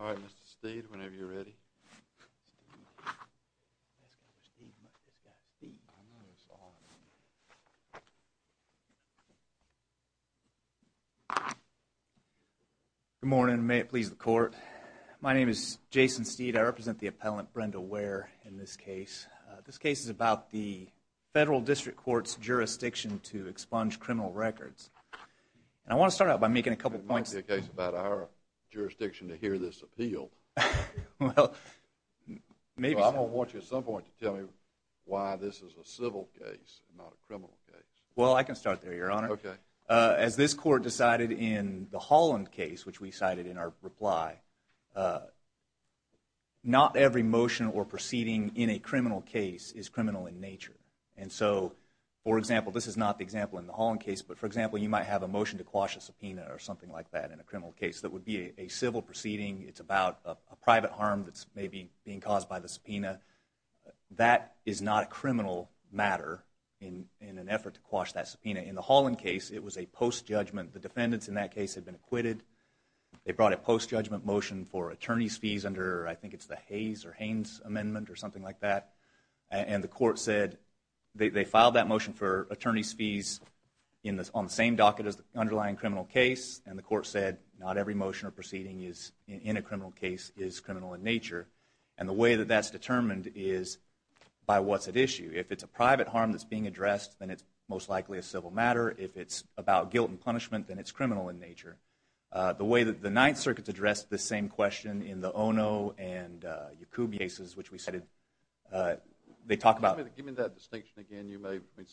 All right, Mr. Steve, whenever you're ready. Good morning. May it please the court. My name is Jason Steed. I represent the appellant Brenda Ware in this case. This case is about the Federal District Court's jurisdiction to expunge criminal records. And I want to start out by making a couple of points. Well, I can start there, Your Honor. As this court decided in the Holland case, which we cited in our reply, not every motion or proceeding in a criminal case is criminal in nature. And so, for example, this is not the example in the Holland case, but for example, you might have a motion to quash a subpoena or something like that in a criminal case that would be a civil proceeding. It's about a private harm that's maybe being caused by the subpoena. That is not a criminal matter in an effort to quash that subpoena. In the Holland case, it was a post-judgment. The defendants in that case had been acquitted. They brought a post-judgment motion for attorney's fees under, I think it's the Hayes or Haines amendment or something like that. And the court said they filed that motion for attorney's fees. We talk of it as the underlying criminal case, and the court said not every motion or proceeding in a criminal case is criminal in nature. And the way that that's determined is by what's at issue. If it's a private harm that's being addressed, then it's most likely a civil matter. If it's about guilt and punishment, then it's criminal in nature. The way that the Ninth Circuit addressed this same question in the Ono and Yacoub cases, which we cited, they talk about – Give me that distinction again. You may mean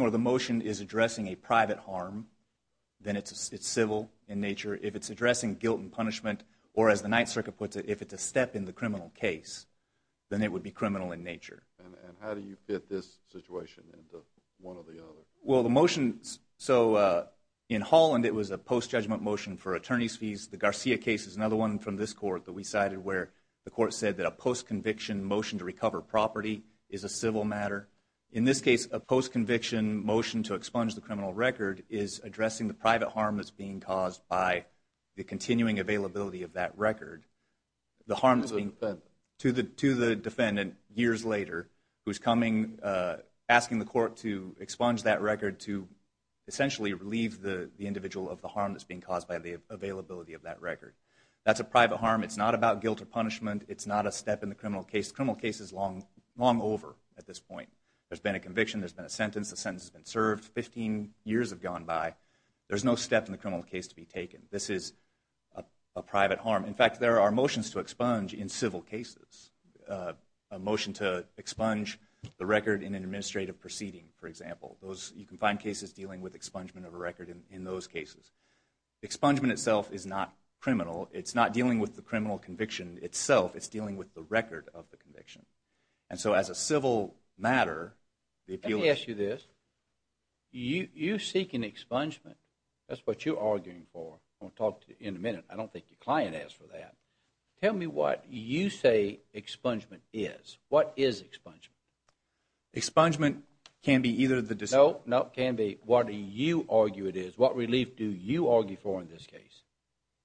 or the motion is addressing a private harm, then it's civil in nature. If it's addressing guilt and punishment, or as the Ninth Circuit puts it, if it's a step in the criminal case, then it would be criminal in nature. And how do you fit this situation into one or the other? Well, the motion – so in Holland, it was a post-judgment motion for attorney's fees. The Garcia case is another one from this court that we cited where the court said that a post-conviction motion to recover property is a civil matter. In this case, a post-conviction motion to expunge the criminal record is addressing the private harm that's being caused by the continuing availability of that record. The harm that's being – To the defendant. To the defendant, years later, who's coming, asking the court to expunge that record to essentially relieve the individual of the harm that's being caused by the availability of that record. That's a private harm. It's not about guilt or punishment. It's not a wrong over at this point. There's been a conviction, there's been a sentence, the sentence has been served, 15 years have gone by. There's no step in the criminal case to be taken. This is a private harm. In fact, there are motions to expunge in civil cases. A motion to expunge the record in an administrative proceeding, for example. Those – you can find cases dealing with expungement of a record in those cases. Expungement itself is not criminal. It's not dealing with the criminal conviction itself. It's dealing with the fact that as a civil matter, the appeal – Let me ask you this. You seek an expungement. That's what you're arguing for. I'm going to talk to you in a minute. I don't think your client asked for that. Tell me what you say expungement is. What is expungement? Expungement can be either the – No, no, can be what you argue it is. What relief do you argue for in this case?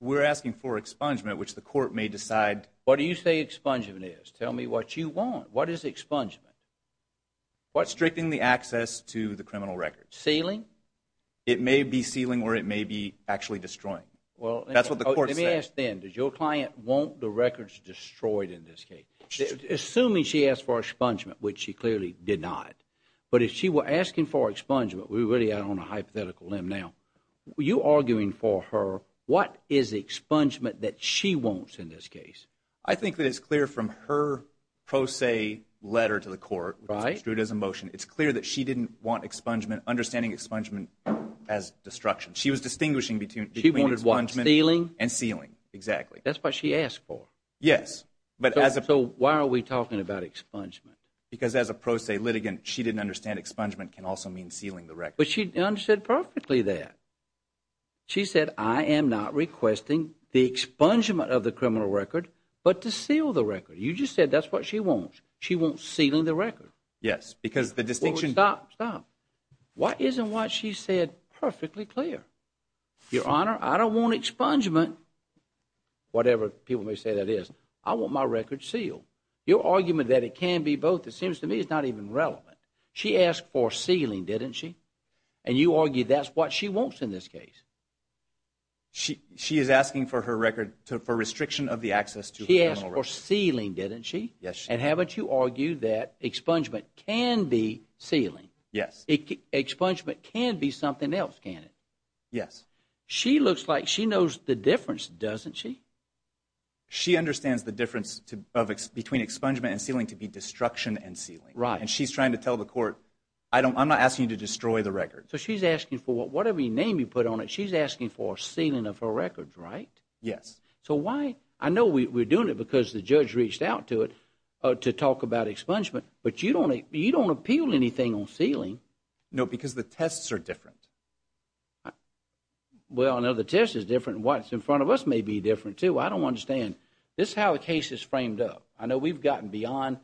We're asking for expungement, which the court may decide – What do you say expungement is? Tell me what you want. What is expungement? Restricting the access to the criminal record. Sealing? It may be sealing or it may be actually destroying. That's what the court said. Let me ask then, does your client want the records destroyed in this case? Assuming she asked for expungement, which she clearly did not. But if she were asking for expungement, we're really out on a hypothetical limb now. You arguing for her, what is expungement that she wants in this case? I think that it's clear from her pro se letter to the court, which was construed as a motion, it's clear that she didn't want expungement, understanding expungement as destruction. She was distinguishing between expungement and sealing. That's what she asked for. Yes. So why are we talking about expungement? Because as a pro se litigant, she didn't understand expungement can also mean sealing the record. But she understood perfectly that. She said, I am not requesting the expungement of the criminal record, but to seal the record. You just said that's what she wants. She wants sealing the record. Yes, because the distinction. Stop, stop. Why isn't what she said perfectly clear? Your Honor, I don't want expungement, whatever people may say that is. I want my record sealed. Your argument that it can be both, it seems to me it's not even relevant. She asked for sealing, didn't she? And you argue that's what she wants in this case. She is asking for her record, for restriction of the access to the criminal record. She asked for sealing, didn't she? Yes. And haven't you argued that expungement can be sealing? Yes. Expungement can be something else, can it? Yes. She looks like she knows the difference, doesn't she? She understands the difference between expungement and sealing to be destruction and sealing. Right. And she's trying to tell the court, I'm not asking you to destroy the record. Whatever name you put on it, she's asking for sealing of her records, right? Yes. I know we're doing it because the judge reached out to it to talk about expungement, but you don't appeal anything on sealing. No, because the tests are different. Well, I know the test is different. What's in front of us may be different, too. I don't understand. This is how the case is framed up. I know we've gotten beyond,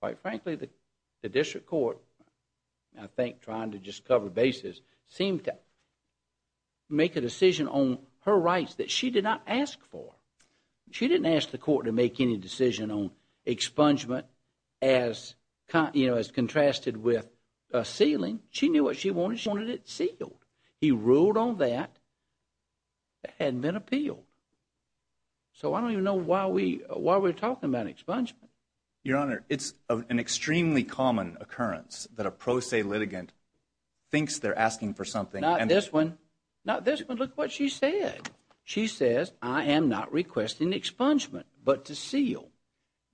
quite frankly, the district court, I think trying to just cover bases, seemed to make a decision on her rights that she did not ask for. She didn't ask the court to make any decision on expungement as contrasted with sealing. She knew what she wanted. She wanted it sealed. He ruled on that. It hadn't been appealed. So I don't even know why we're talking about expungement. Your Honor, it's an extremely common occurrence that a pro se litigant thinks they're asking for something. Not this one. Not this one. Look what she said. She says, I am not requesting expungement, but to seal.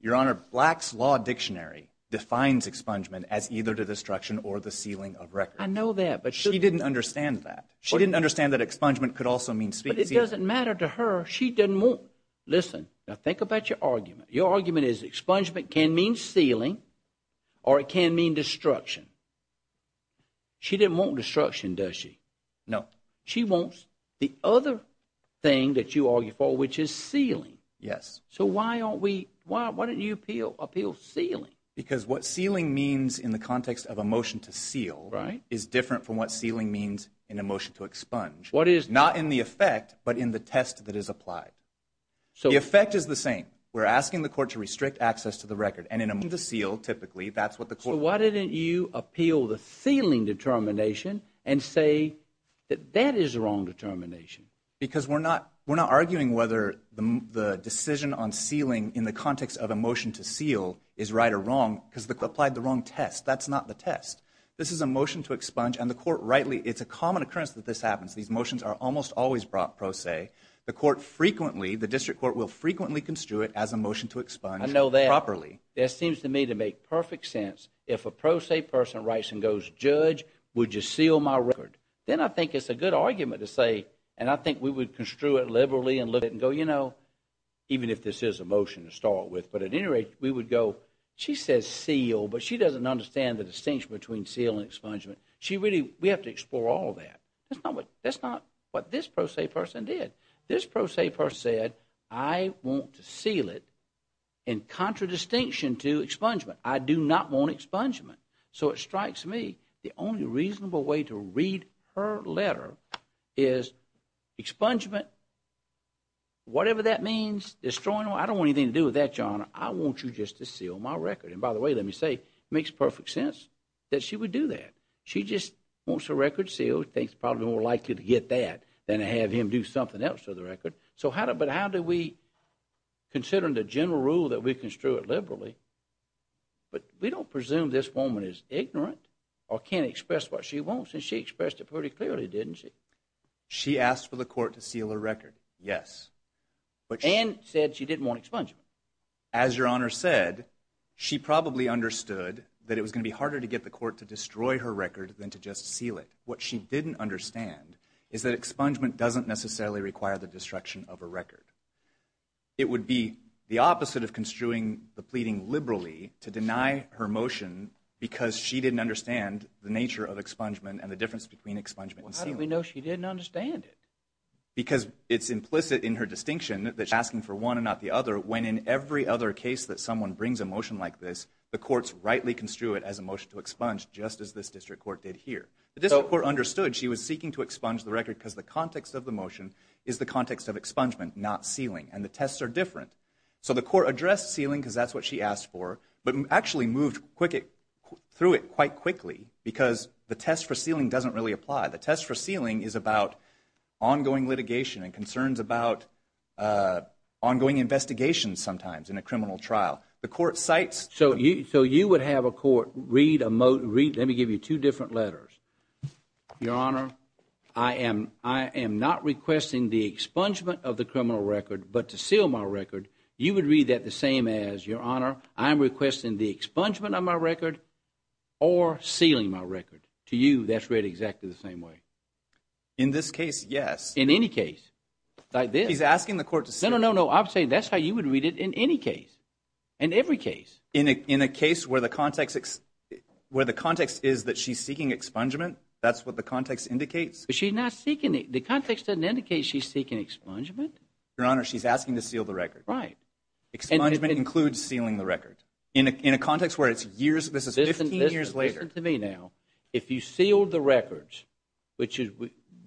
Your Honor, Black's Law Dictionary defines expungement as either the destruction or the sealing of records. I know that, but shouldn't... She didn't understand that. She didn't understand that expungement could also mean sealing. But it doesn't matter to her. She didn't want... Listen, now think about your argument. Your argument is expungement can mean sealing, or it can mean destruction. She didn't want destruction, does she? No. She wants the other thing that you argue for, which is sealing. Yes. So why don't you appeal sealing? Because what sealing means in the context of a motion to seal is different from what sealing means in a motion to expunge. What is... The effect is the same. We're asking the court to restrict access to the record, and in a motion to seal, typically, that's what the court... So why didn't you appeal the sealing determination and say that that is the wrong determination? Because we're not arguing whether the decision on sealing in the context of a motion to seal is right or wrong because they applied the wrong test. That's not the test. This is a motion to expunge, and the court rightly... It's a common occurrence that this happens. These motions are almost always pro se. The court frequently... The district court will frequently construe it as a motion to expunge properly. I know that. That seems to me to make perfect sense. If a pro se person writes and goes, Judge, would you seal my record? Then I think it's a good argument to say, and I think we would construe it liberally and look at it and go, you know, even if this is a motion to start with. But at any rate, we would go, she says seal, but she doesn't understand the distinction between seal and expungement. We have to explore all that. That's not what this pro se person did. This pro se person said, I want to seal it in contradistinction to expungement. I do not want expungement. So it strikes me the only reasonable way to read her letter is expungement, whatever that means, destroying... I don't want anything to do with that, Your Honor. I want you just to seal my record. And by the way, let me say, it makes perfect sense that she would do that. She just wants her record sealed, thinks probably more likely to get that than to have him do something else to the record. But how do we, considering the general rule that we construe it liberally, but we don't presume this woman is ignorant or can't express what she wants, and she expressed it pretty clearly, didn't she? She asked for the court to seal her record, yes. And said she didn't want expungement. As Your Honor said, she probably understood that it was going to be harder to get the court to destroy her record than to just seal it. What she didn't understand is that expungement doesn't necessarily require the destruction of a record. It would be the opposite of construing the pleading liberally to deny her motion because she didn't understand the nature of expungement and the difference between expungement and sealing. Well, how do we know she didn't understand it? Because it's implicit in her distinction that she's asking for one and not the other when in every other case that someone brings a motion like this, the courts rightly construe it as a motion to expunge just as this district court did here. The district court understood she was seeking to expunge the record because the context of the motion is the context of expungement, not sealing, and the tests are different. So the court addressed sealing because that's what she asked for, but actually moved through it quite quickly because the test for sealing doesn't really apply. The test for sealing is about ongoing litigation and concerns about ongoing investigations sometimes in a criminal trial. So you would have a court read a motion. Let me give you two different letters. Your Honor, I am not requesting the expungement of the criminal record, but to seal my record. You would read that the same as, Your Honor, I am requesting the expungement of my record or sealing my record. To you, that's read exactly the same way. In this case, yes. In any case, like this. He's asking the court to seal. No, no, no. I'm saying that's how you would read it in any case, in every case. In a case where the context is that she's seeking expungement, that's what the context indicates? She's not seeking it. The context doesn't indicate she's seeking expungement. Your Honor, she's asking to seal the record. Right. Expungement includes sealing the record. In a context where it's years, this is 15 years later. Listen to me now. If you seal the records, which is,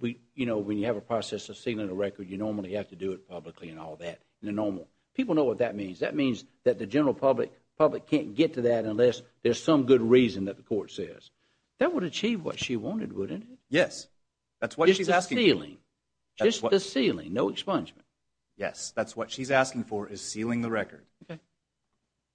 you know, when you have a process of sealing a record, you normally have to do it publicly and all that, the normal. People know what that means. That means that the general public can't get to that unless there's some good reason that the court says. That would achieve what she wanted, wouldn't it? Yes. That's what she's asking. Just the sealing. Just the sealing. No expungement. Yes. That's what she's asking for is sealing the record. Okay.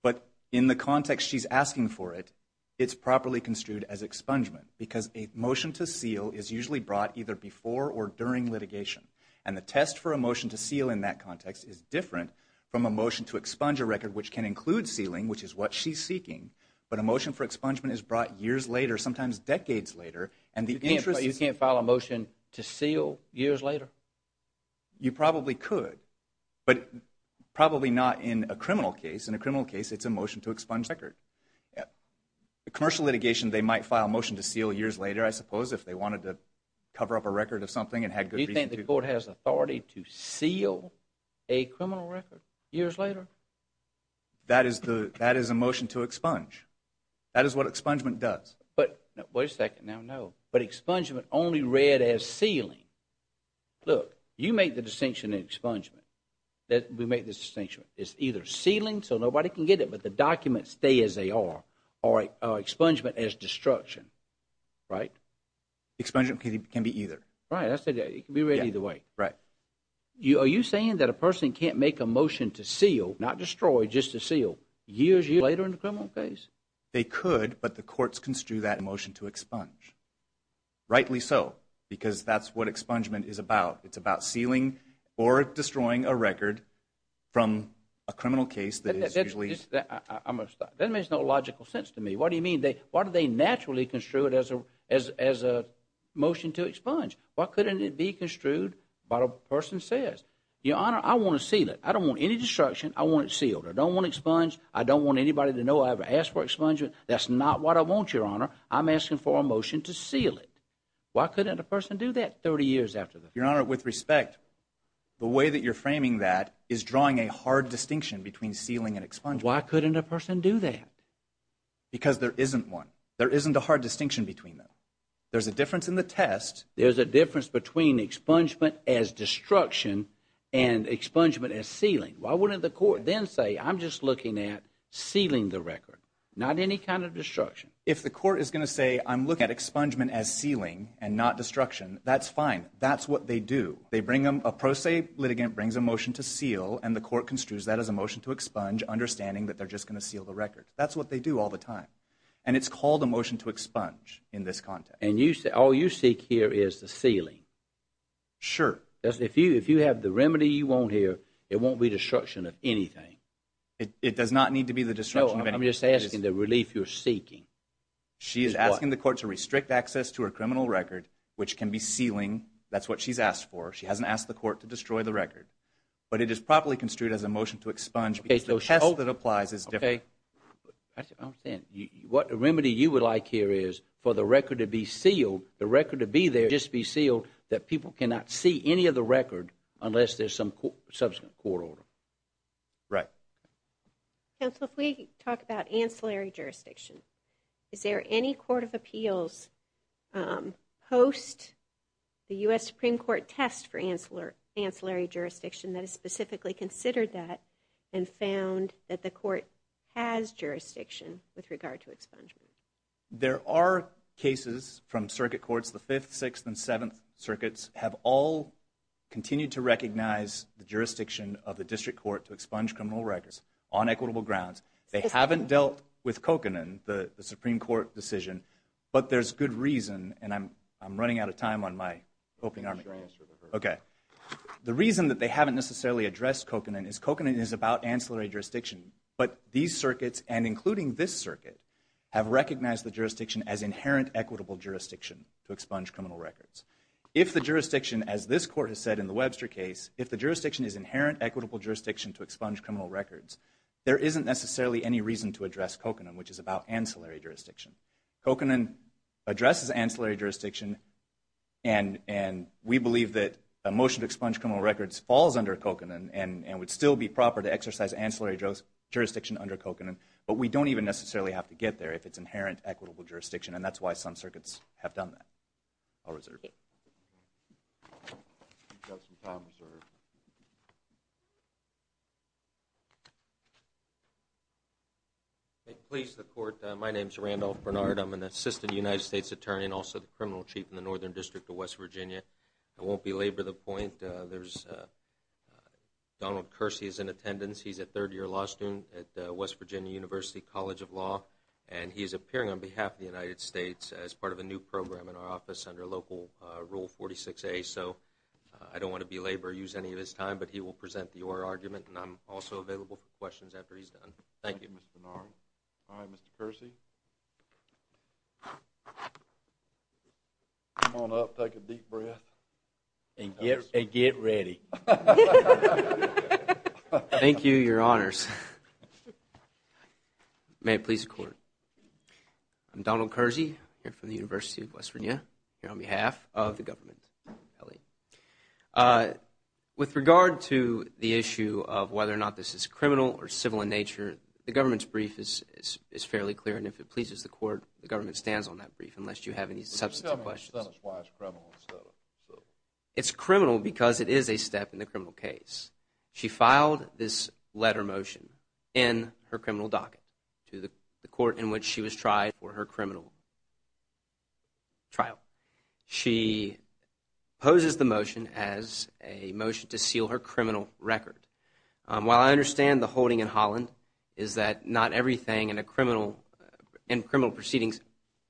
But in the context she's asking for it, it's properly construed as expungement because a motion to seal is usually brought either before or during litigation. And the test for a motion to seal in that context is different from a motion to expunge a record, which can include sealing, which is what she's seeking. But a motion for expungement is brought years later, sometimes decades later. You can't file a motion to seal years later? You probably could. But probably not in a criminal case. In a criminal case, it's a motion to expunge a record. In commercial litigation, they might file a motion to seal years later, I suppose, if they wanted to cover up a record of something and had good reason to. Do you think the court has authority to seal a criminal record years later? That is a motion to expunge. That is what expungement does. Wait a second. Now, no. But expungement only read as sealing. Look, you make the distinction in expungement that we make this distinction. It's either sealing so nobody can get it but the documents stay as they are or expungement as destruction, right? Expungement can be either. Right. It can be read either way. Right. Are you saying that a person can't make a motion to seal, not destroy, just to seal years later in a criminal case? They could, but the courts construe that motion to expunge. Rightly so because that's what expungement is about. It's about sealing or destroying a record from a criminal case that is usually. That makes no logical sense to me. What do you mean? Why do they naturally construe it as a motion to expunge? Why couldn't it be construed by what a person says? Your Honor, I want to seal it. I don't want any destruction. I want it sealed. I don't want expunge. I don't want anybody to know I ever asked for expungement. That's not what I want, Your Honor. I'm asking for a motion to seal it. Why couldn't a person do that 30 years after the fact? Your Honor, with respect, the way that you're framing that is drawing a hard distinction between sealing and expungement. Why couldn't a person do that? Because there isn't one. There isn't a hard distinction between them. There's a difference in the test. There's a difference between expungement as destruction and expungement as sealing. Why wouldn't the court then say, I'm just looking at sealing the record, not any kind of destruction? If the court is going to say, I'm looking at expungement as sealing and not destruction, that's fine. That's what they do. A pro se litigant brings a motion to seal, and the court construes that as a motion to expunge, understanding that they're just going to seal the record. That's what they do all the time. And it's called a motion to expunge in this context. And all you seek here is the sealing. Sure. If you have the remedy you want here, it won't be destruction of anything. It does not need to be the destruction of anything. No, I'm just asking the relief you're seeking. She is asking the court to restrict access to her criminal record, which can be sealing. That's what she's asked for. She hasn't asked the court to destroy the record. But it is properly construed as a motion to expunge because the test that applies is different. Okay. I understand. What remedy you would like here is for the record to be sealed, the record to be there, just be sealed that people cannot see any of the record unless there's some subsequent court order. Right. Counsel, if we talk about ancillary jurisdiction, is there any court of appeals post the U.S. Supreme Court test for ancillary jurisdiction that has specifically considered that and found that the court has jurisdiction with regard to expungement? There are cases from circuit courts. The Fifth, Sixth, and Seventh Circuits have all continued to recognize the jurisdiction of the district court to expunge criminal records on equitable grounds. They haven't dealt with Kokanen, the Supreme Court decision, but there's good reason, and I'm running out of time on my coping army. Sure. Okay. The reason that they haven't necessarily addressed Kokanen is that Kokanen is about ancillary jurisdiction, but these circuits, and including this circuit, have recognized the jurisdiction as inherent equitable jurisdiction to expunge criminal records. If the jurisdiction, as this court has said in the Webster case, if the jurisdiction is inherent equitable jurisdiction to expunge criminal records, there isn't necessarily any reason to address Kokanen, which is about ancillary jurisdiction. Kokanen addresses ancillary jurisdiction, and we believe that a motion to expunge criminal records falls under Kokanen and would still be proper to exercise ancillary jurisdiction under Kokanen, but we don't even necessarily have to get there if it's inherent equitable jurisdiction, and that's why some circuits have done that. I'll reserve. Okay. We've got some time reserved. Please, the court, my name is Randolph Bernard. I'm an assistant United States attorney and also the criminal chief in the Northern District of West Virginia. I won't belabor the point. Donald Kersey is in attendance. He's a third-year law student at West Virginia University College of Law, and he's appearing on behalf of the United States as part of a new program in our office under Local Rule 46A. So I don't want to belabor or use any of his time, but he will present the oral argument, and I'm also available for questions after he's done. Thank you, Mr. Bernard. All right, Mr. Kersey. Come on up. Take a deep breath. And get ready. Thank you, Your Honors. May it please the Court. I'm Donald Kersey, here from the University of West Virginia, here on behalf of the government. With regard to the issue of whether or not this is criminal or civil in nature, the government's brief is fairly clear, and if it pleases the Court, the government stands on that brief unless you have any substantive questions. Why is it criminal instead of civil? It's criminal because it is a step in the criminal case. She filed this letter motion in her criminal docket to the court in which she was tried for her criminal trial. She poses the motion as a motion to seal her criminal record. While I understand the holding in Holland is that not everything in criminal proceedings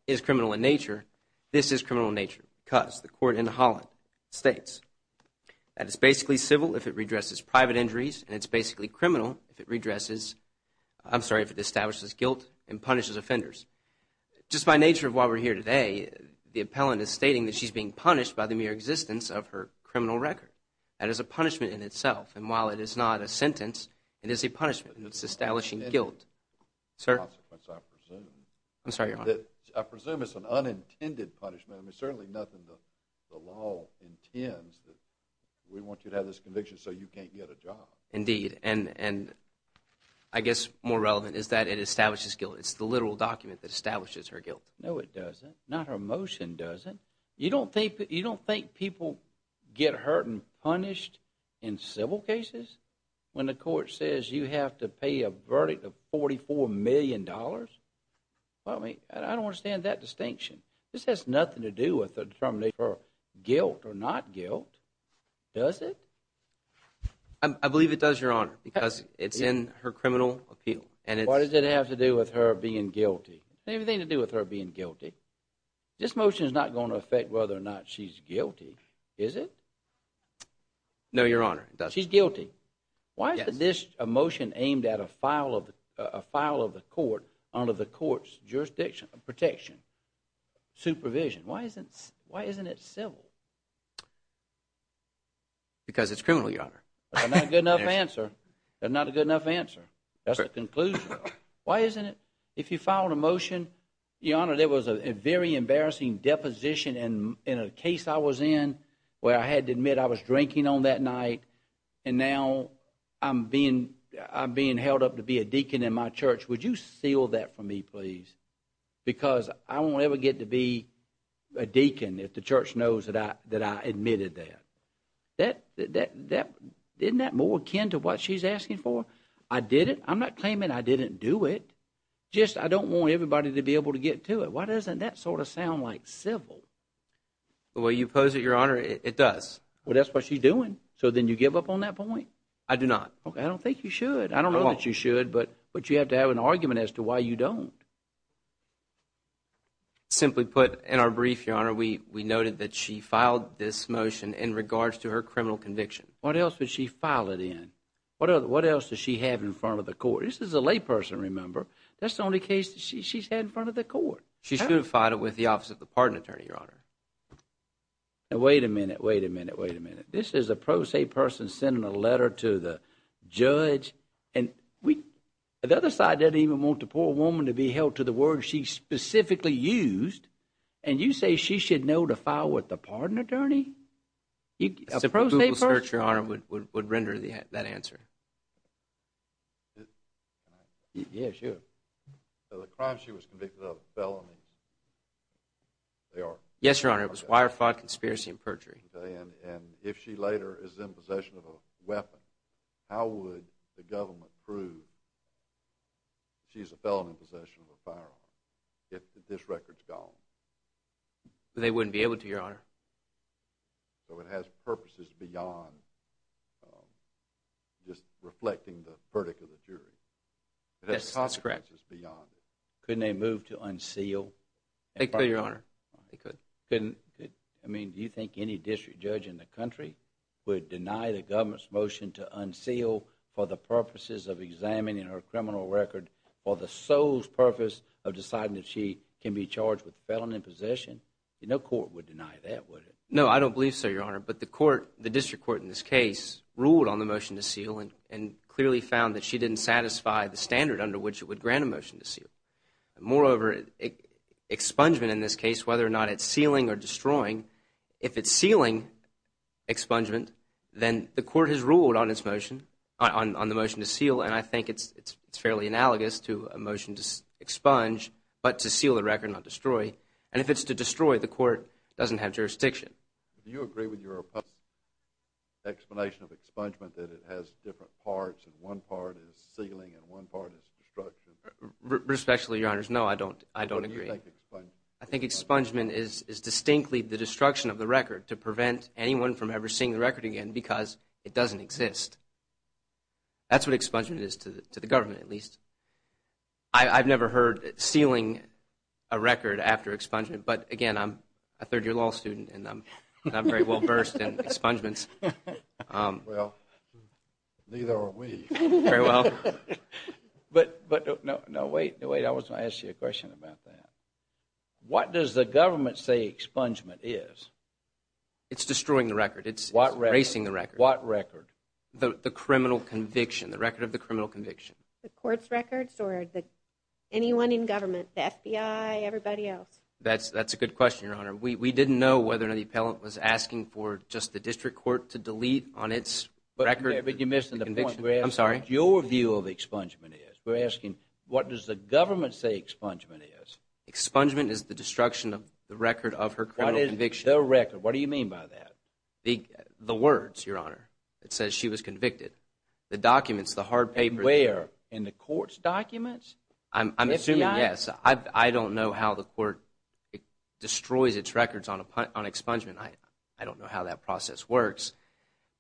is criminal in nature, this is criminal in nature because the court in Holland states that it's basically civil if it redresses private injuries and it's basically criminal if it redresses I'm sorry, if it establishes guilt and punishes offenders. Just by nature of why we're here today, the appellant is stating that she's being punished by the mere existence of her criminal record. That is a punishment in itself, and while it is not a sentence, it is a punishment in its establishing guilt. I presume it's an unintended punishment. There's certainly nothing the law intends. We want you to have this conviction so you can't get a job. Indeed, and I guess more relevant is that it establishes guilt. It's the literal document that establishes her guilt. No, it doesn't. Not her motion does it. You don't think people get hurt and punished in civil cases? When the court says you have to pay a verdict of $44 million? I don't understand that distinction. This has nothing to do with the determination of her guilt or not guilt. Does it? I believe it does, Your Honor, because it's in her criminal appeal. What does it have to do with her being guilty? It doesn't have anything to do with her being guilty. This motion is not going to affect whether or not she's guilty, is it? No, Your Honor, it doesn't. She's guilty. Why is this motion aimed at a file of the court under the court's jurisdiction, protection, supervision? Why isn't it civil? Because it's criminal, Your Honor. That's not a good enough answer. That's not a good enough answer. That's the conclusion. Why isn't it? If you filed a motion, Your Honor, there was a very embarrassing deposition in a case I was in where I had to admit I was drinking on that night and now I'm being held up to be a deacon in my church. Would you seal that for me, please? Because I won't ever get to be a deacon if the church knows that I admitted that. Isn't that more akin to what she's asking for? I did it. I'm not claiming I didn't do it. Just I don't want everybody to be able to get to it. Why doesn't that sort of sound like civil? The way you pose it, Your Honor, it does. Well, that's what she's doing. So then you give up on that point? I do not. Okay, I don't think you should. I don't know that you should, but you have to have an argument as to why you don't. Simply put, in our brief, Your Honor, we noted that she filed this motion in regards to her criminal conviction. What else would she file it in? What else does she have in front of the court? This is a layperson, remember. That's the only case that she's had in front of the court. She should have filed it with the office of the pardon attorney, Your Honor. Now, wait a minute, wait a minute, wait a minute. This is a pro se person sending a letter to the judge, and the other side doesn't even want the poor woman to be held to the word she specifically used, and you say she should know to file with the pardon attorney? A pro se person would render that answer. Yeah, sure. The crime she was convicted of, felony, they are? Yes, Your Honor, it was wire fraud, conspiracy, and perjury. And if she later is in possession of a weapon, how would the government prove she's a felon in possession of a firearm if this record's gone? They wouldn't be able to, Your Honor. So it has purposes beyond just reflecting the verdict of the jury? That's correct. Couldn't they move to unseal? They could, Your Honor. I mean, do you think any district judge in the country would deny the government's motion to unseal for the purposes of examining her criminal record for the sole purpose of deciding that she can be charged with felony possession? No court would deny that, would it? No, I don't believe so, Your Honor. But the district court in this case ruled on the motion to seal and clearly found that she didn't satisfy the standard under which it would grant a motion to seal. Moreover, expungement in this case, whether or not it's sealing or destroying, if it's sealing expungement, then the court has ruled on the motion to seal, and I think it's fairly analogous to a motion to expunge but to seal the record, not destroy. And if it's to destroy, the court doesn't have jurisdiction. Do you agree with your opponent's explanation of expungement that it has different parts and one part is sealing and one part is destruction? Respectfully, Your Honors, no, I don't agree. What do you think expungement is? I think expungement is distinctly the destruction of the record to prevent anyone from ever seeing the record again because it doesn't exist. That's what expungement is to the government, at least. I've never heard sealing a record after expungement, but, again, I'm a third-year law student and I'm very well versed in expungements. Well, neither are we. Very well. But no, wait, I was going to ask you a question about that. What does the government say expungement is? It's destroying the record. It's erasing the record. What record? The criminal conviction, the record of the criminal conviction. The court's records or anyone in government, the FBI, everybody else? That's a good question, Your Honor. We didn't know whether or not the appellant was asking for just the district court to delete on its record. But you're missing the point. I'm sorry. We're asking what your view of expungement is. We're asking what does the government say expungement is? Expungement is the destruction of the record of her criminal conviction. What is the record? What do you mean by that? The words, Your Honor. It says she was convicted. The documents, the hard papers. And where? In the court's documents? I'm assuming, yes. I don't know how the court destroys its records on expungement. I don't know how that process works.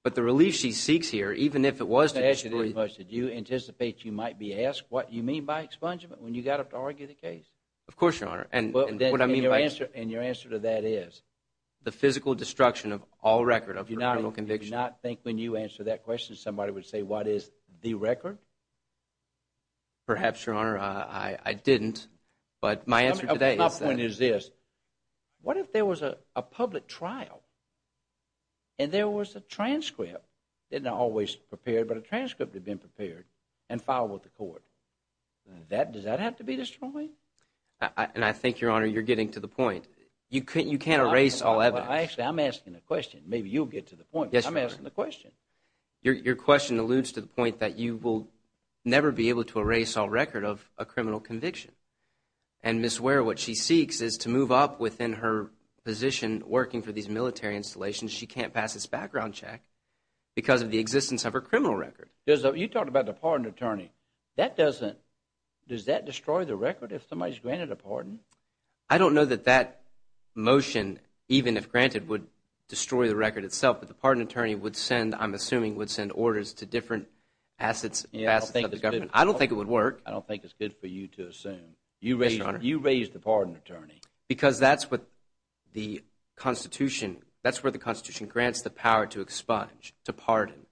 But the relief she seeks here, even if it was to destroy… I'm not going to ask you this much. Did you anticipate you might be asked what you mean by expungement when you got up to argue the case? Of course, Your Honor. And what I mean by… And your answer to that is? The physical destruction of all record of her criminal conviction. Do you not think when you answer that question somebody would say what is the record? Perhaps, Your Honor. I didn't. But my answer to that is… My point is this. What if there was a public trial and there was a transcript? It's not always prepared, but a transcript had been prepared and filed with the court. Does that have to be destroyed? And I think, Your Honor, you're getting to the point. You can't erase all evidence. Actually, I'm asking a question. Maybe you'll get to the point, but I'm asking the question. Your question alludes to the point that you will never be able to erase all record of a criminal conviction. And Ms. Ware, what she seeks is to move up within her position working for these military installations. She can't pass this background check because of the existence of her criminal record. You talked about the pardon attorney. Does that destroy the record if somebody is granted a pardon? I don't know that that motion, even if granted, would destroy the record itself. But the pardon attorney would send, I'm assuming, would send orders to different assets of the government. I don't think it would work. I don't think it's good for you to assume. You raised the pardon attorney. Because that's what the Constitution, that's where the Constitution grants the power to expunge, to pardon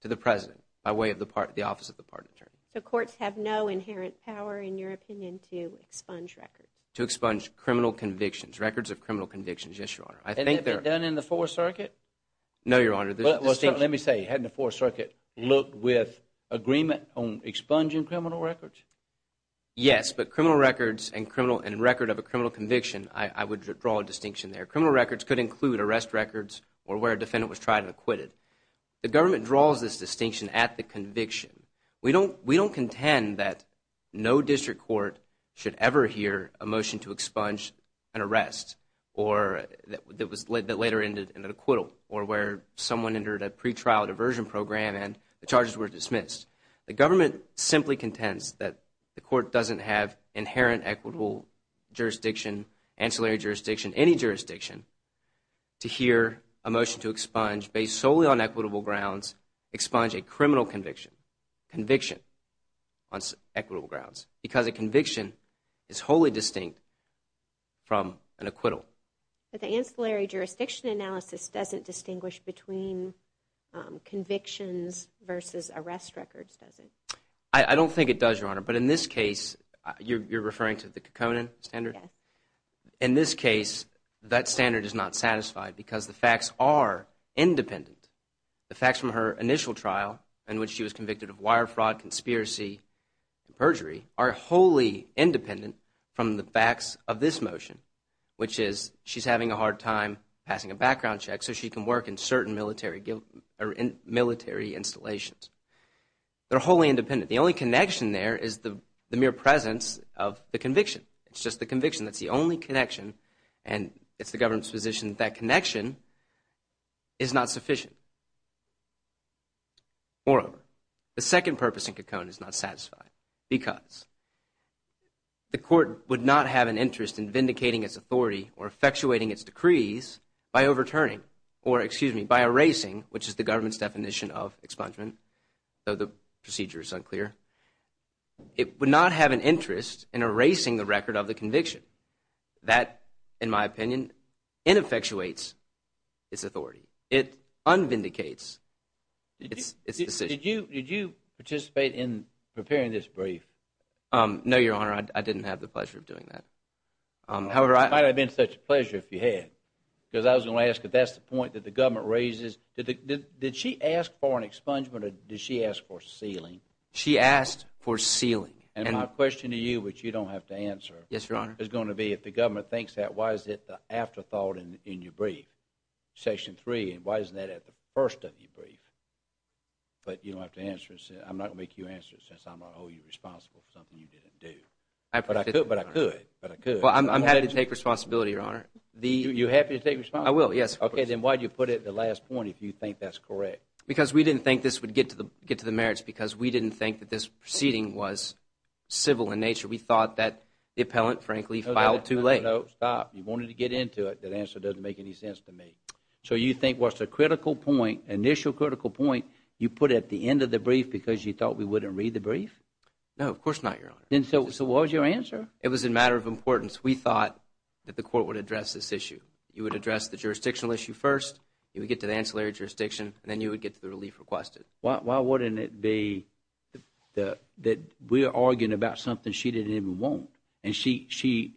to the President by way of the office of the pardon attorney. So courts have no inherent power, in your opinion, to expunge records? No, Your Honor. Let me say, hadn't the Fourth Circuit looked with agreement on expunging criminal records? Yes, but criminal records and record of a criminal conviction, I would draw a distinction there. Criminal records could include arrest records or where a defendant was tried and acquitted. The government draws this distinction at the conviction. We don't contend that no district court should ever hear a motion to expunge an arrest that later ended in an acquittal or where someone entered a pretrial diversion program and the charges were dismissed. The government simply contends that the court doesn't have inherent equitable jurisdiction, ancillary jurisdiction, any jurisdiction, to hear a motion to expunge based solely on equitable grounds, expunge a criminal conviction, conviction on equitable grounds. Because a conviction is wholly distinct from an acquittal. But the ancillary jurisdiction analysis doesn't distinguish between convictions versus arrest records, does it? I don't think it does, Your Honor. But in this case, you're referring to the Kekkonen standard? Yes. In this case, that standard is not satisfied because the facts are independent. The facts from her initial trial in which she was convicted of wire fraud, conspiracy, and perjury are wholly independent from the facts of this motion, which is she's having a hard time passing a background check so she can work in certain military installations. They're wholly independent. The only connection there is the mere presence of the conviction. It's just the conviction. That's the only connection, and it's the government's position that that connection is not sufficient. Moreover, the second purpose in Kekkonen is not satisfied because the court would not have an interest in vindicating its authority or effectuating its decrees by overturning or, excuse me, by erasing, which is the government's definition of expungement, though the procedure is unclear. It would not have an interest in erasing the record of the conviction. That, in my opinion, ineffectuates its authority. It unvindicates its decision. Did you participate in preparing this brief? No, Your Honor. I didn't have the pleasure of doing that. It might have been such a pleasure if you had because I was going to ask if that's the point that the government raises. Did she ask for an expungement or did she ask for sealing? She asked for sealing. And my question to you, which you don't have to answer, is going to be if the government thinks that, why is it the afterthought in your brief, Section 3, and why isn't that at the first of your brief? But you don't have to answer it. I'm not going to make you answer it since I'm going to hold you responsible for something you didn't do. But I could. I'm happy to take responsibility, Your Honor. You're happy to take responsibility? I will, yes. Okay. Then why did you put it at the last point if you think that's correct? Because we didn't think this would get to the merits because we didn't think that this proceeding was civil in nature. We thought that the appellant, frankly, filed too late. No, stop. You wanted to get into it. That answer doesn't make any sense to me. So you think what's the critical point, initial critical point, you put at the end of the brief because you thought we wouldn't read the brief? No, of course not, Your Honor. So what was your answer? It was a matter of importance. We thought that the court would address this issue. You would address the jurisdictional issue first. You would get to the ancillary jurisdiction, and then you would get to the relief requested. Why wouldn't it be that we're arguing about something she didn't even want, and she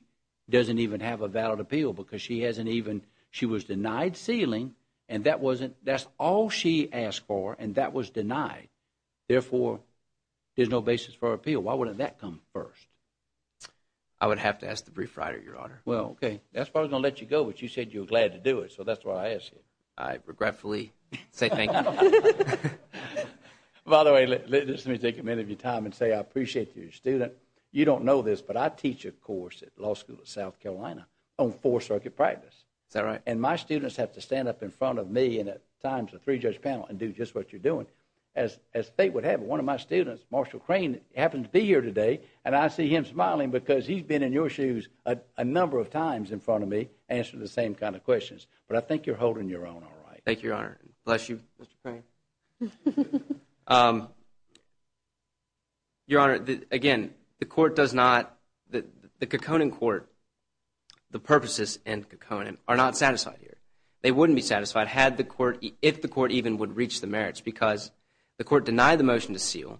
doesn't even have a valid appeal because she was denied sealing, and that's all she asked for, and that was denied. Therefore, there's no basis for appeal. Why wouldn't that come first? I would have to ask the brief writer, Your Honor. Well, okay. That's why I was going to let you go, but you said you were glad to do it, so that's why I asked you. I regretfully say thank you. By the way, let me take a minute of your time and say I appreciate you as a student. You don't know this, but I teach a course at the Law School of South Carolina on Fourth Circuit practice. Is that right? And my students have to stand up in front of me and at times a three-judge panel and do just what you're doing. As fate would have it, one of my students, Marshall Crane, happened to be here today, and I see him smiling because he's been in your shoes a number of times in front of me answering the same kind of questions, but I think you're holding your own all right. Thank you, Your Honor. Bless you, Mr. Crane. Your Honor, again, the court does not – the Kokonan court, the purposes in Kokonan are not satisfied here. They wouldn't be satisfied had the court – if the court even would reach the merits because the court denied the motion to seal.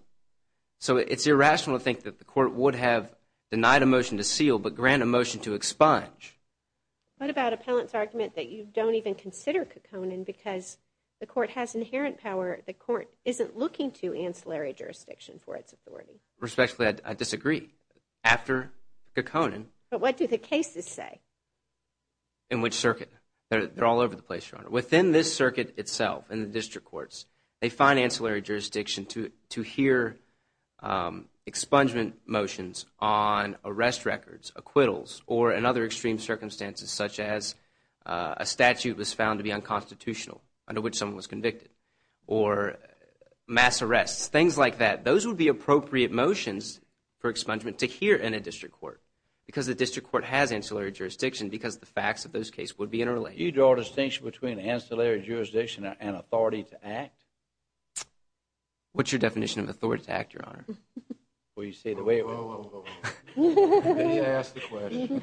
So it's irrational to think that the court would have denied a motion to seal but grant a motion to expunge. What about appellant's argument that you don't even consider Kokonan because the court has inherent power? The court isn't looking to ancillary jurisdiction for its authority. Respectfully, I disagree. After Kokonan – But what do the cases say? They're all over the place, Your Honor. Within this circuit itself, in the district courts, they find ancillary jurisdiction to hear expungement motions on arrest records, acquittals or in other extreme circumstances such as a statute was found to be unconstitutional under which someone was convicted or mass arrests, things like that. Those would be appropriate motions for expungement to hear in a district court because the district court has ancillary jurisdiction because the facts of those cases would be interrelated. So you draw a distinction between ancillary jurisdiction and authority to act? What's your definition of authority to act, Your Honor? Well, you say it the way it was. You didn't ask the question.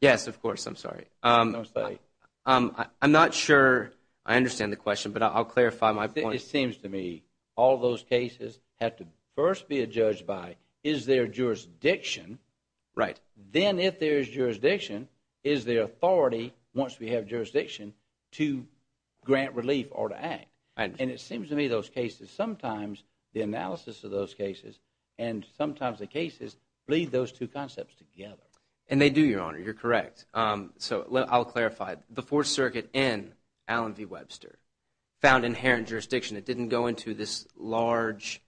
Yes, of course. I'm sorry. I'm not sure I understand the question, but I'll clarify my point. It seems to me all those cases have to first be judged by is there jurisdiction. Right. Then if there is jurisdiction, is there authority, once we have jurisdiction, to grant relief or to act? And it seems to me those cases, sometimes the analysis of those cases and sometimes the cases lead those two concepts together. And they do, Your Honor. You're correct. So I'll clarify. The Fourth Circuit in Allen v. Webster found inherent jurisdiction. It didn't go into this large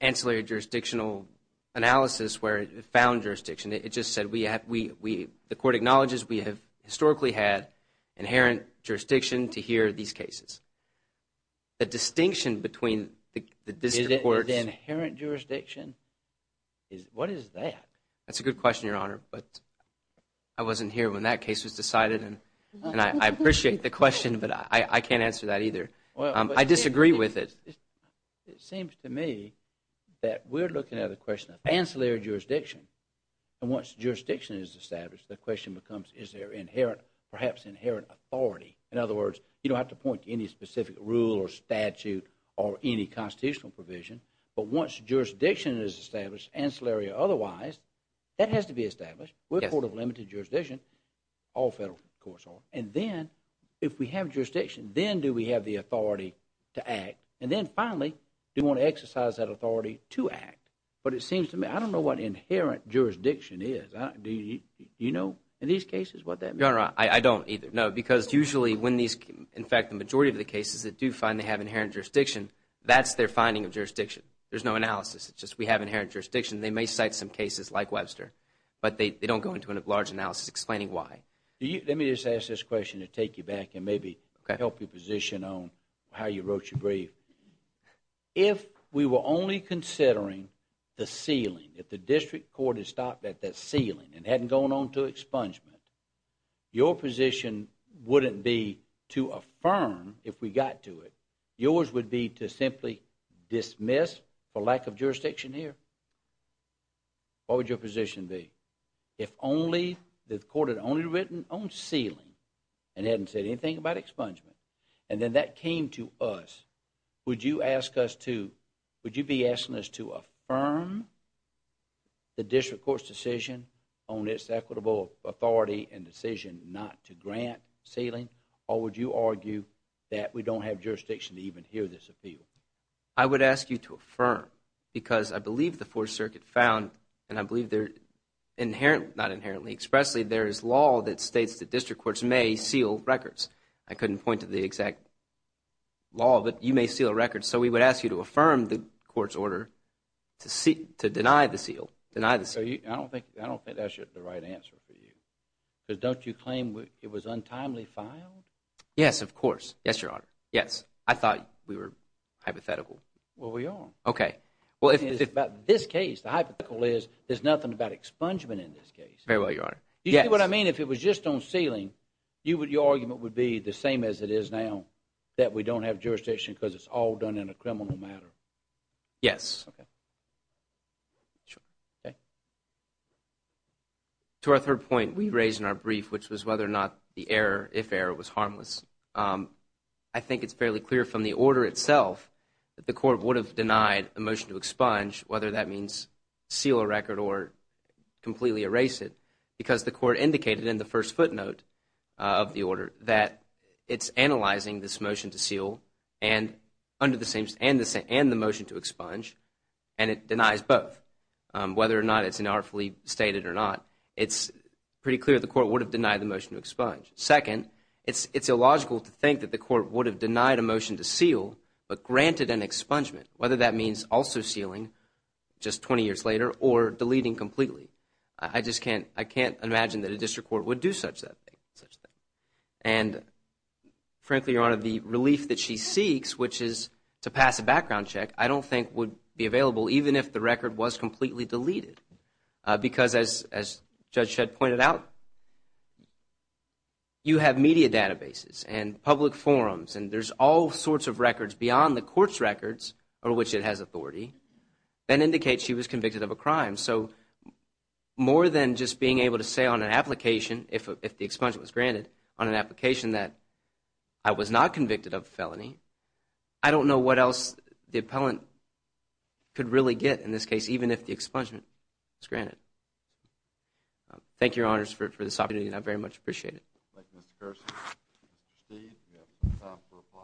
ancillary jurisdictional analysis where it found jurisdiction. It just said the court acknowledges we have historically had inherent jurisdiction to hear these cases. The distinction between the district courts – Is it inherent jurisdiction? What is that? That's a good question, Your Honor, but I wasn't here when that case was decided, and I appreciate the question, but I can't answer that either. I disagree with it. It seems to me that we're looking at a question of ancillary jurisdiction. And once jurisdiction is established, the question becomes is there perhaps inherent authority? In other words, you don't have to point to any specific rule or statute or any constitutional provision, but once jurisdiction is established, ancillary or otherwise, that has to be established. We're a court of limited jurisdiction. All federal courts are. And then if we have jurisdiction, then do we have the authority to act? And then finally, do we want to exercise that authority to act? But it seems to me, I don't know what inherent jurisdiction is. Do you know in these cases what that means? Your Honor, I don't either. No, because usually when these – in fact, the majority of the cases that do find they have inherent jurisdiction, that's their finding of jurisdiction. There's no analysis. It's just we have inherent jurisdiction. They may cite some cases like Webster, but they don't go into a large analysis explaining why. Let me just ask this question to take you back and maybe help your position on how you wrote your brief. If we were only considering the ceiling, if the district court had stopped at the ceiling and hadn't gone on to expungement, your position wouldn't be to affirm if we got to it. Yours would be to simply dismiss for lack of jurisdiction here. What would your position be? If only the court had only written on ceiling and hadn't said anything about expungement and then that came to us, would you ask us to – would you be asking us to affirm the district court's decision on its equitable authority and decision not to grant ceiling or would you argue that we don't have jurisdiction to even hear this appeal? I would ask you to affirm because I believe the Fourth Circuit found and I believe they're inherently – not inherently, expressly there is law that states that district courts may seal records. I couldn't point to the exact law, but you may seal a record. So we would ask you to affirm the court's order to deny the seal. I don't think that's the right answer for you because don't you claim it was untimely filed? Yes, of course. Yes, Your Honor. Yes. I thought we were hypothetical. Well, we are. Okay. It's about this case. The hypothetical is there's nothing about expungement in this case. Very well, Your Honor. Yes. You see what I mean? If it was just on ceiling, your argument would be the same as it is now that we don't have jurisdiction because it's all done in a criminal matter. Yes. Okay. Sure. Okay. To our third point we raised in our brief, which was whether or not the error, if error, was harmless. I think it's fairly clear from the order itself that the court would have denied a motion to expunge, whether that means seal a record or completely erase it, because the court indicated in the first footnote of the order that it's analyzing this motion to seal and the motion to expunge, and it denies both. Whether or not it's inartfully stated or not, it's pretty clear the court would have denied the motion to expunge. Second, it's illogical to think that the court would have denied a motion to seal but granted an expungement, whether that means also sealing just 20 years later or deleting completely. I just can't imagine that a district court would do such a thing. And, frankly, Your Honor, the relief that she seeks, which is to pass a background check, I don't think would be available even if the record was completely deleted, because, as Judge Shedd pointed out, you have media databases and public forums and there's all sorts of records beyond the court's records, of which it has authority, that indicate she was convicted of a crime. So more than just being able to say on an application, if the expungement was granted, on an application that I was not convicted of a felony, I don't know what else the appellant could really get in this case, even if the expungement was granted. Thank you, Your Honors, for this opportunity, and I very much appreciate it. Thank you, Mr. Kersey. Mr. Steed, you have some time to reply.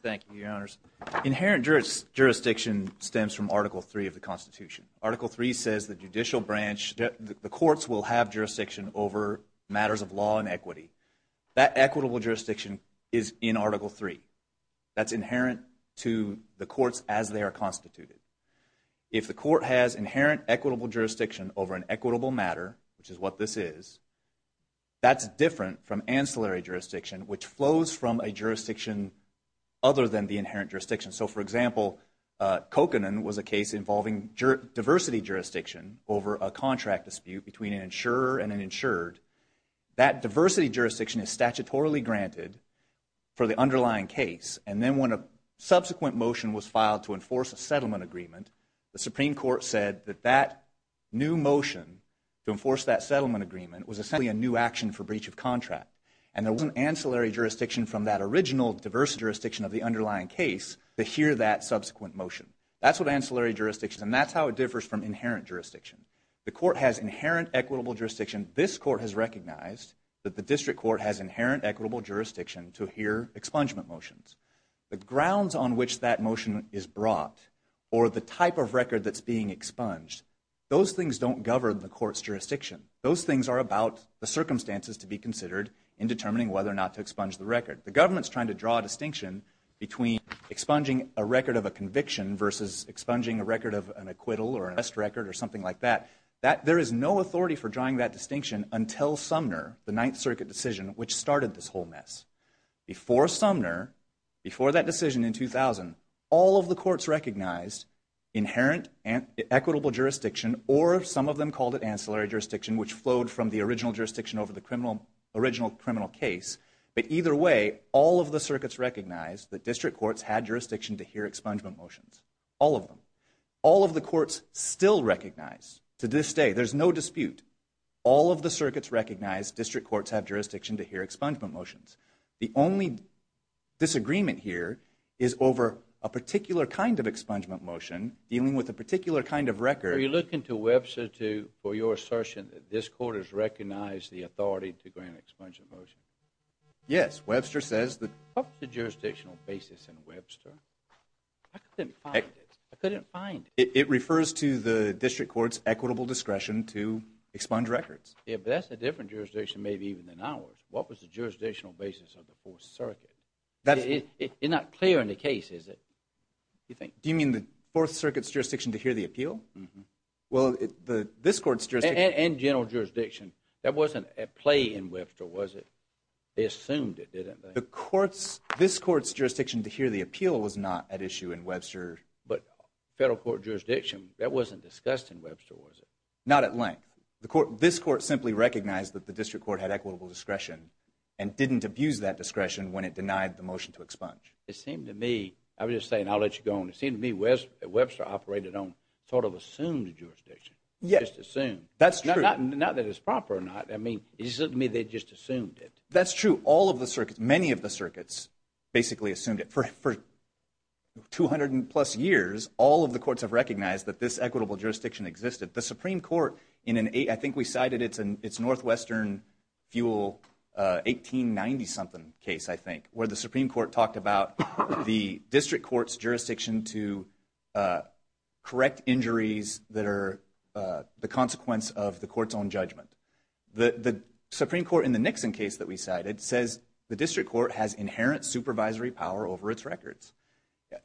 Thank you, Your Honors. Inherent jurisdiction stems from Article III of the Constitution. Article III says the judicial branch, the courts will have jurisdiction over matters of law and equity. That equitable jurisdiction is in Article III. That's inherent to the courts as they are constituted. If the court has inherent equitable jurisdiction over an equitable matter, which is what this is, that's different from ancillary jurisdiction, which flows from a jurisdiction other than the inherent jurisdiction. So, for example, Kokanen was a case involving diversity jurisdiction over a contract dispute between an insurer and an insured. That diversity jurisdiction is statutorily granted for the underlying case, and then when a subsequent motion was filed to enforce a settlement agreement, the Supreme Court said that that new motion to enforce that settlement agreement was essentially a new action for breach of contract, and there wasn't ancillary jurisdiction from that original diverse jurisdiction of the underlying case to hear that subsequent motion. That's what ancillary jurisdiction is, and that's how it differs from inherent jurisdiction. The court has inherent equitable jurisdiction. This court has recognized that the district court has inherent equitable jurisdiction to hear expungement motions. The grounds on which that motion is brought or the type of record that's being expunged, those things don't govern the court's jurisdiction. Those things are about the circumstances to be considered in determining whether or not to expunge the record. The government's trying to draw a distinction between expunging a record of a conviction versus expunging a record of an acquittal or an arrest record or something like that. There is no authority for drawing that distinction until Sumner, the Ninth Circuit decision, which started this whole mess. Before Sumner, before that decision in 2000, all of the courts recognized inherent equitable jurisdiction, or some of them called it ancillary jurisdiction, which flowed from the original jurisdiction over the original criminal case. But either way, all of the circuits recognized that district courts had jurisdiction to hear expungement motions, all of them. All of the courts still recognize to this day, there's no dispute, all of the circuits recognize district courts have jurisdiction to hear expungement motions. The only disagreement here is over a particular kind of expungement motion dealing with a particular kind of record. Are you looking to Webster for your assertion that this court has recognized the authority to grant expungement motions? Yes, Webster says that. What was the jurisdictional basis in Webster? I couldn't find it. I couldn't find it. It refers to the district court's equitable discretion to expunge records. Yeah, but that's a different jurisdiction maybe even than ours. What was the jurisdictional basis of the Fourth Circuit? It's not clear in the case, is it? Do you mean the Fourth Circuit's jurisdiction to hear the appeal? Well, this court's jurisdiction. And general jurisdiction. That wasn't at play in Webster, was it? They assumed it, didn't they? This court's jurisdiction to hear the appeal was not at issue in Webster. But federal court jurisdiction, that wasn't discussed in Webster, was it? Not at length. This court simply recognized that the district court had equitable discretion and didn't abuse that discretion when it denied the motion to expunge. It seemed to me, I'm just saying, I'll let you go on. It seemed to me Webster operated on sort of assumed jurisdiction. Just assumed. That's true. Not that it's proper or not. I mean, it just seemed to me they just assumed it. That's true. All of the circuits, many of the circuits basically assumed it. For 200 plus years, all of the courts have recognized that this equitable jurisdiction existed. The Supreme Court, I think we cited its Northwestern Fuel 1890-something case, I think, where the Supreme Court talked about the district court's jurisdiction to correct injuries that are the consequence of the court's own judgment. The Supreme Court, in the Nixon case that we cited, says the district court has inherent supervisory power over its records.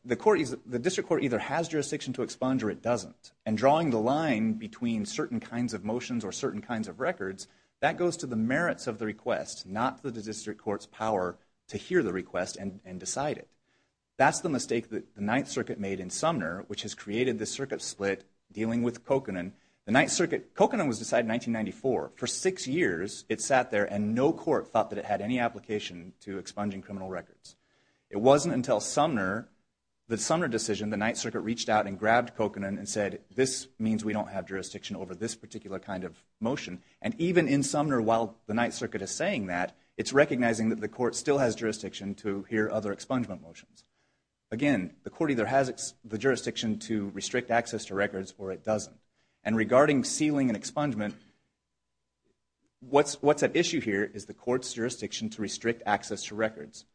The district court either has jurisdiction to expunge or it doesn't. And drawing the line between certain kinds of motions or certain kinds of records, that goes to the merits of the request, not the district court's power to hear the request and decide it. That's the mistake that the Ninth Circuit made in Sumner, which has created this circuit split dealing with Coconin. Coconin was decided in 1994. For six years it sat there and no court thought that it had any application to expunging criminal records. It wasn't until Sumner, the Sumner decision, the Ninth Circuit reached out and grabbed Coconin and said, this means we don't have jurisdiction over this particular kind of motion. And even in Sumner, while the Ninth Circuit is saying that, it's recognizing that the court still has jurisdiction to hear other expungement motions. Again, the court either has the jurisdiction to restrict access to records or it doesn't. And regarding sealing and expungement, what's at issue here is the court's jurisdiction to restrict access to records.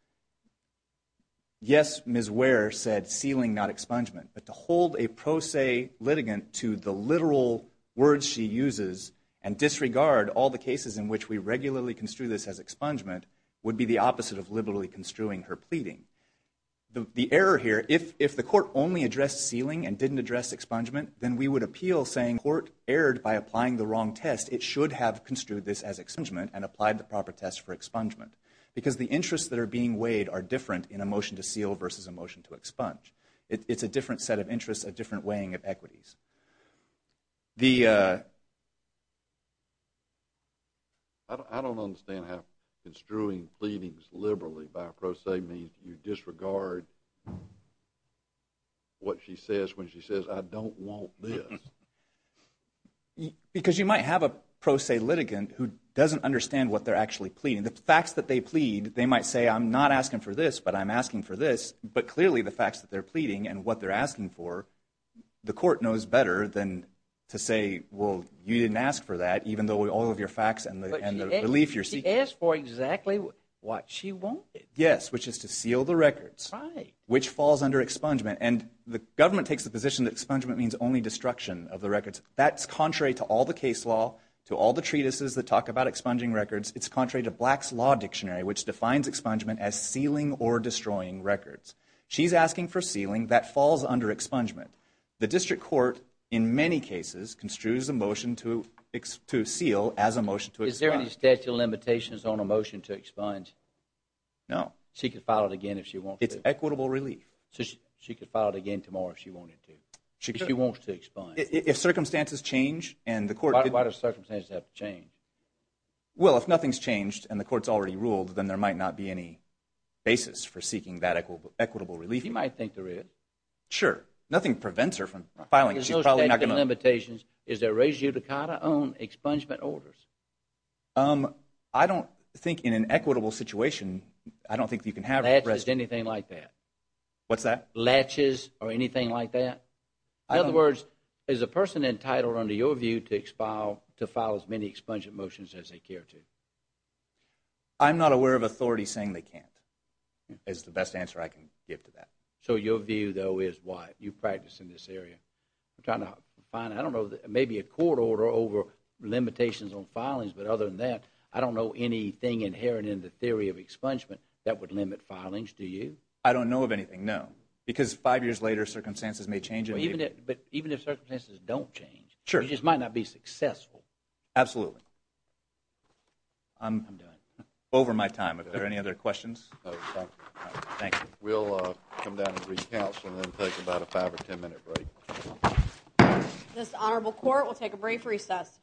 Yes, Ms. Ware said sealing, not expungement. But to hold a pro se litigant to the literal words she uses and disregard all the cases in which we regularly construe this as expungement would be the opposite of liberally construing her pleading. The error here, if the court only addressed sealing and didn't address expungement, then we would appeal saying the court erred by applying the wrong test. It should have construed this as expungement and applied the proper test for expungement. Because the interests that are being weighed are different in a motion to seal versus a motion to expunge. I don't understand how construing pleadings liberally by pro se means you disregard what she says when she says, I don't want this. Because you might have a pro se litigant who doesn't understand what they're actually pleading. The facts that they plead, they might say, I'm not asking for this, but I'm asking for this. But clearly the facts that they're pleading and what they're asking for, the court knows better than to say, well, you didn't ask for that, even though all of your facts and the belief you're seeking. But she asked for exactly what she wanted. Yes, which is to seal the records. Right. Which falls under expungement. And the government takes the position that expungement means only destruction of the records. That's contrary to all the case law, to all the treatises that talk about expunging records. It's contrary to Black's Law Dictionary, which defines expungement as sealing or destroying records. She's asking for sealing. That falls under expungement. The district court, in many cases, construes a motion to seal as a motion to expunge. Is there any statute of limitations on a motion to expunge? No. She could file it again if she wants to. It's equitable relief. She could file it again tomorrow if she wanted to, if she wants to expunge. If circumstances change and the court— Why do circumstances have to change? Well, if nothing's changed and the court's already ruled, then there might not be any basis for seeking that equitable relief. You might think there is. Sure. Nothing prevents her from filing it. She's probably not going to— Is there a statute of limitations? Is there a res judicata on expungement orders? I don't think in an equitable situation, I don't think you can have— Latches or anything like that? What's that? Latches or anything like that? In other words, is a person entitled, under your view, to file as many expungement motions as they care to? I'm not aware of authorities saying they can't is the best answer I can give to that. So your view, though, is why you practice in this area. I'm trying to find, I don't know, maybe a court order over limitations on filings, but other than that, I don't know anything inherent in the theory of expungement that would limit filings. Do you? I don't know of anything, no. Because five years later, circumstances may change. But even if circumstances don't change, it just might not be successful. Absolutely. I'm done. Over my time. Are there any other questions? No, thank you. Thank you. We'll come down and re-counsel and then take about a five or ten minute break. This honorable court will take a brief recess.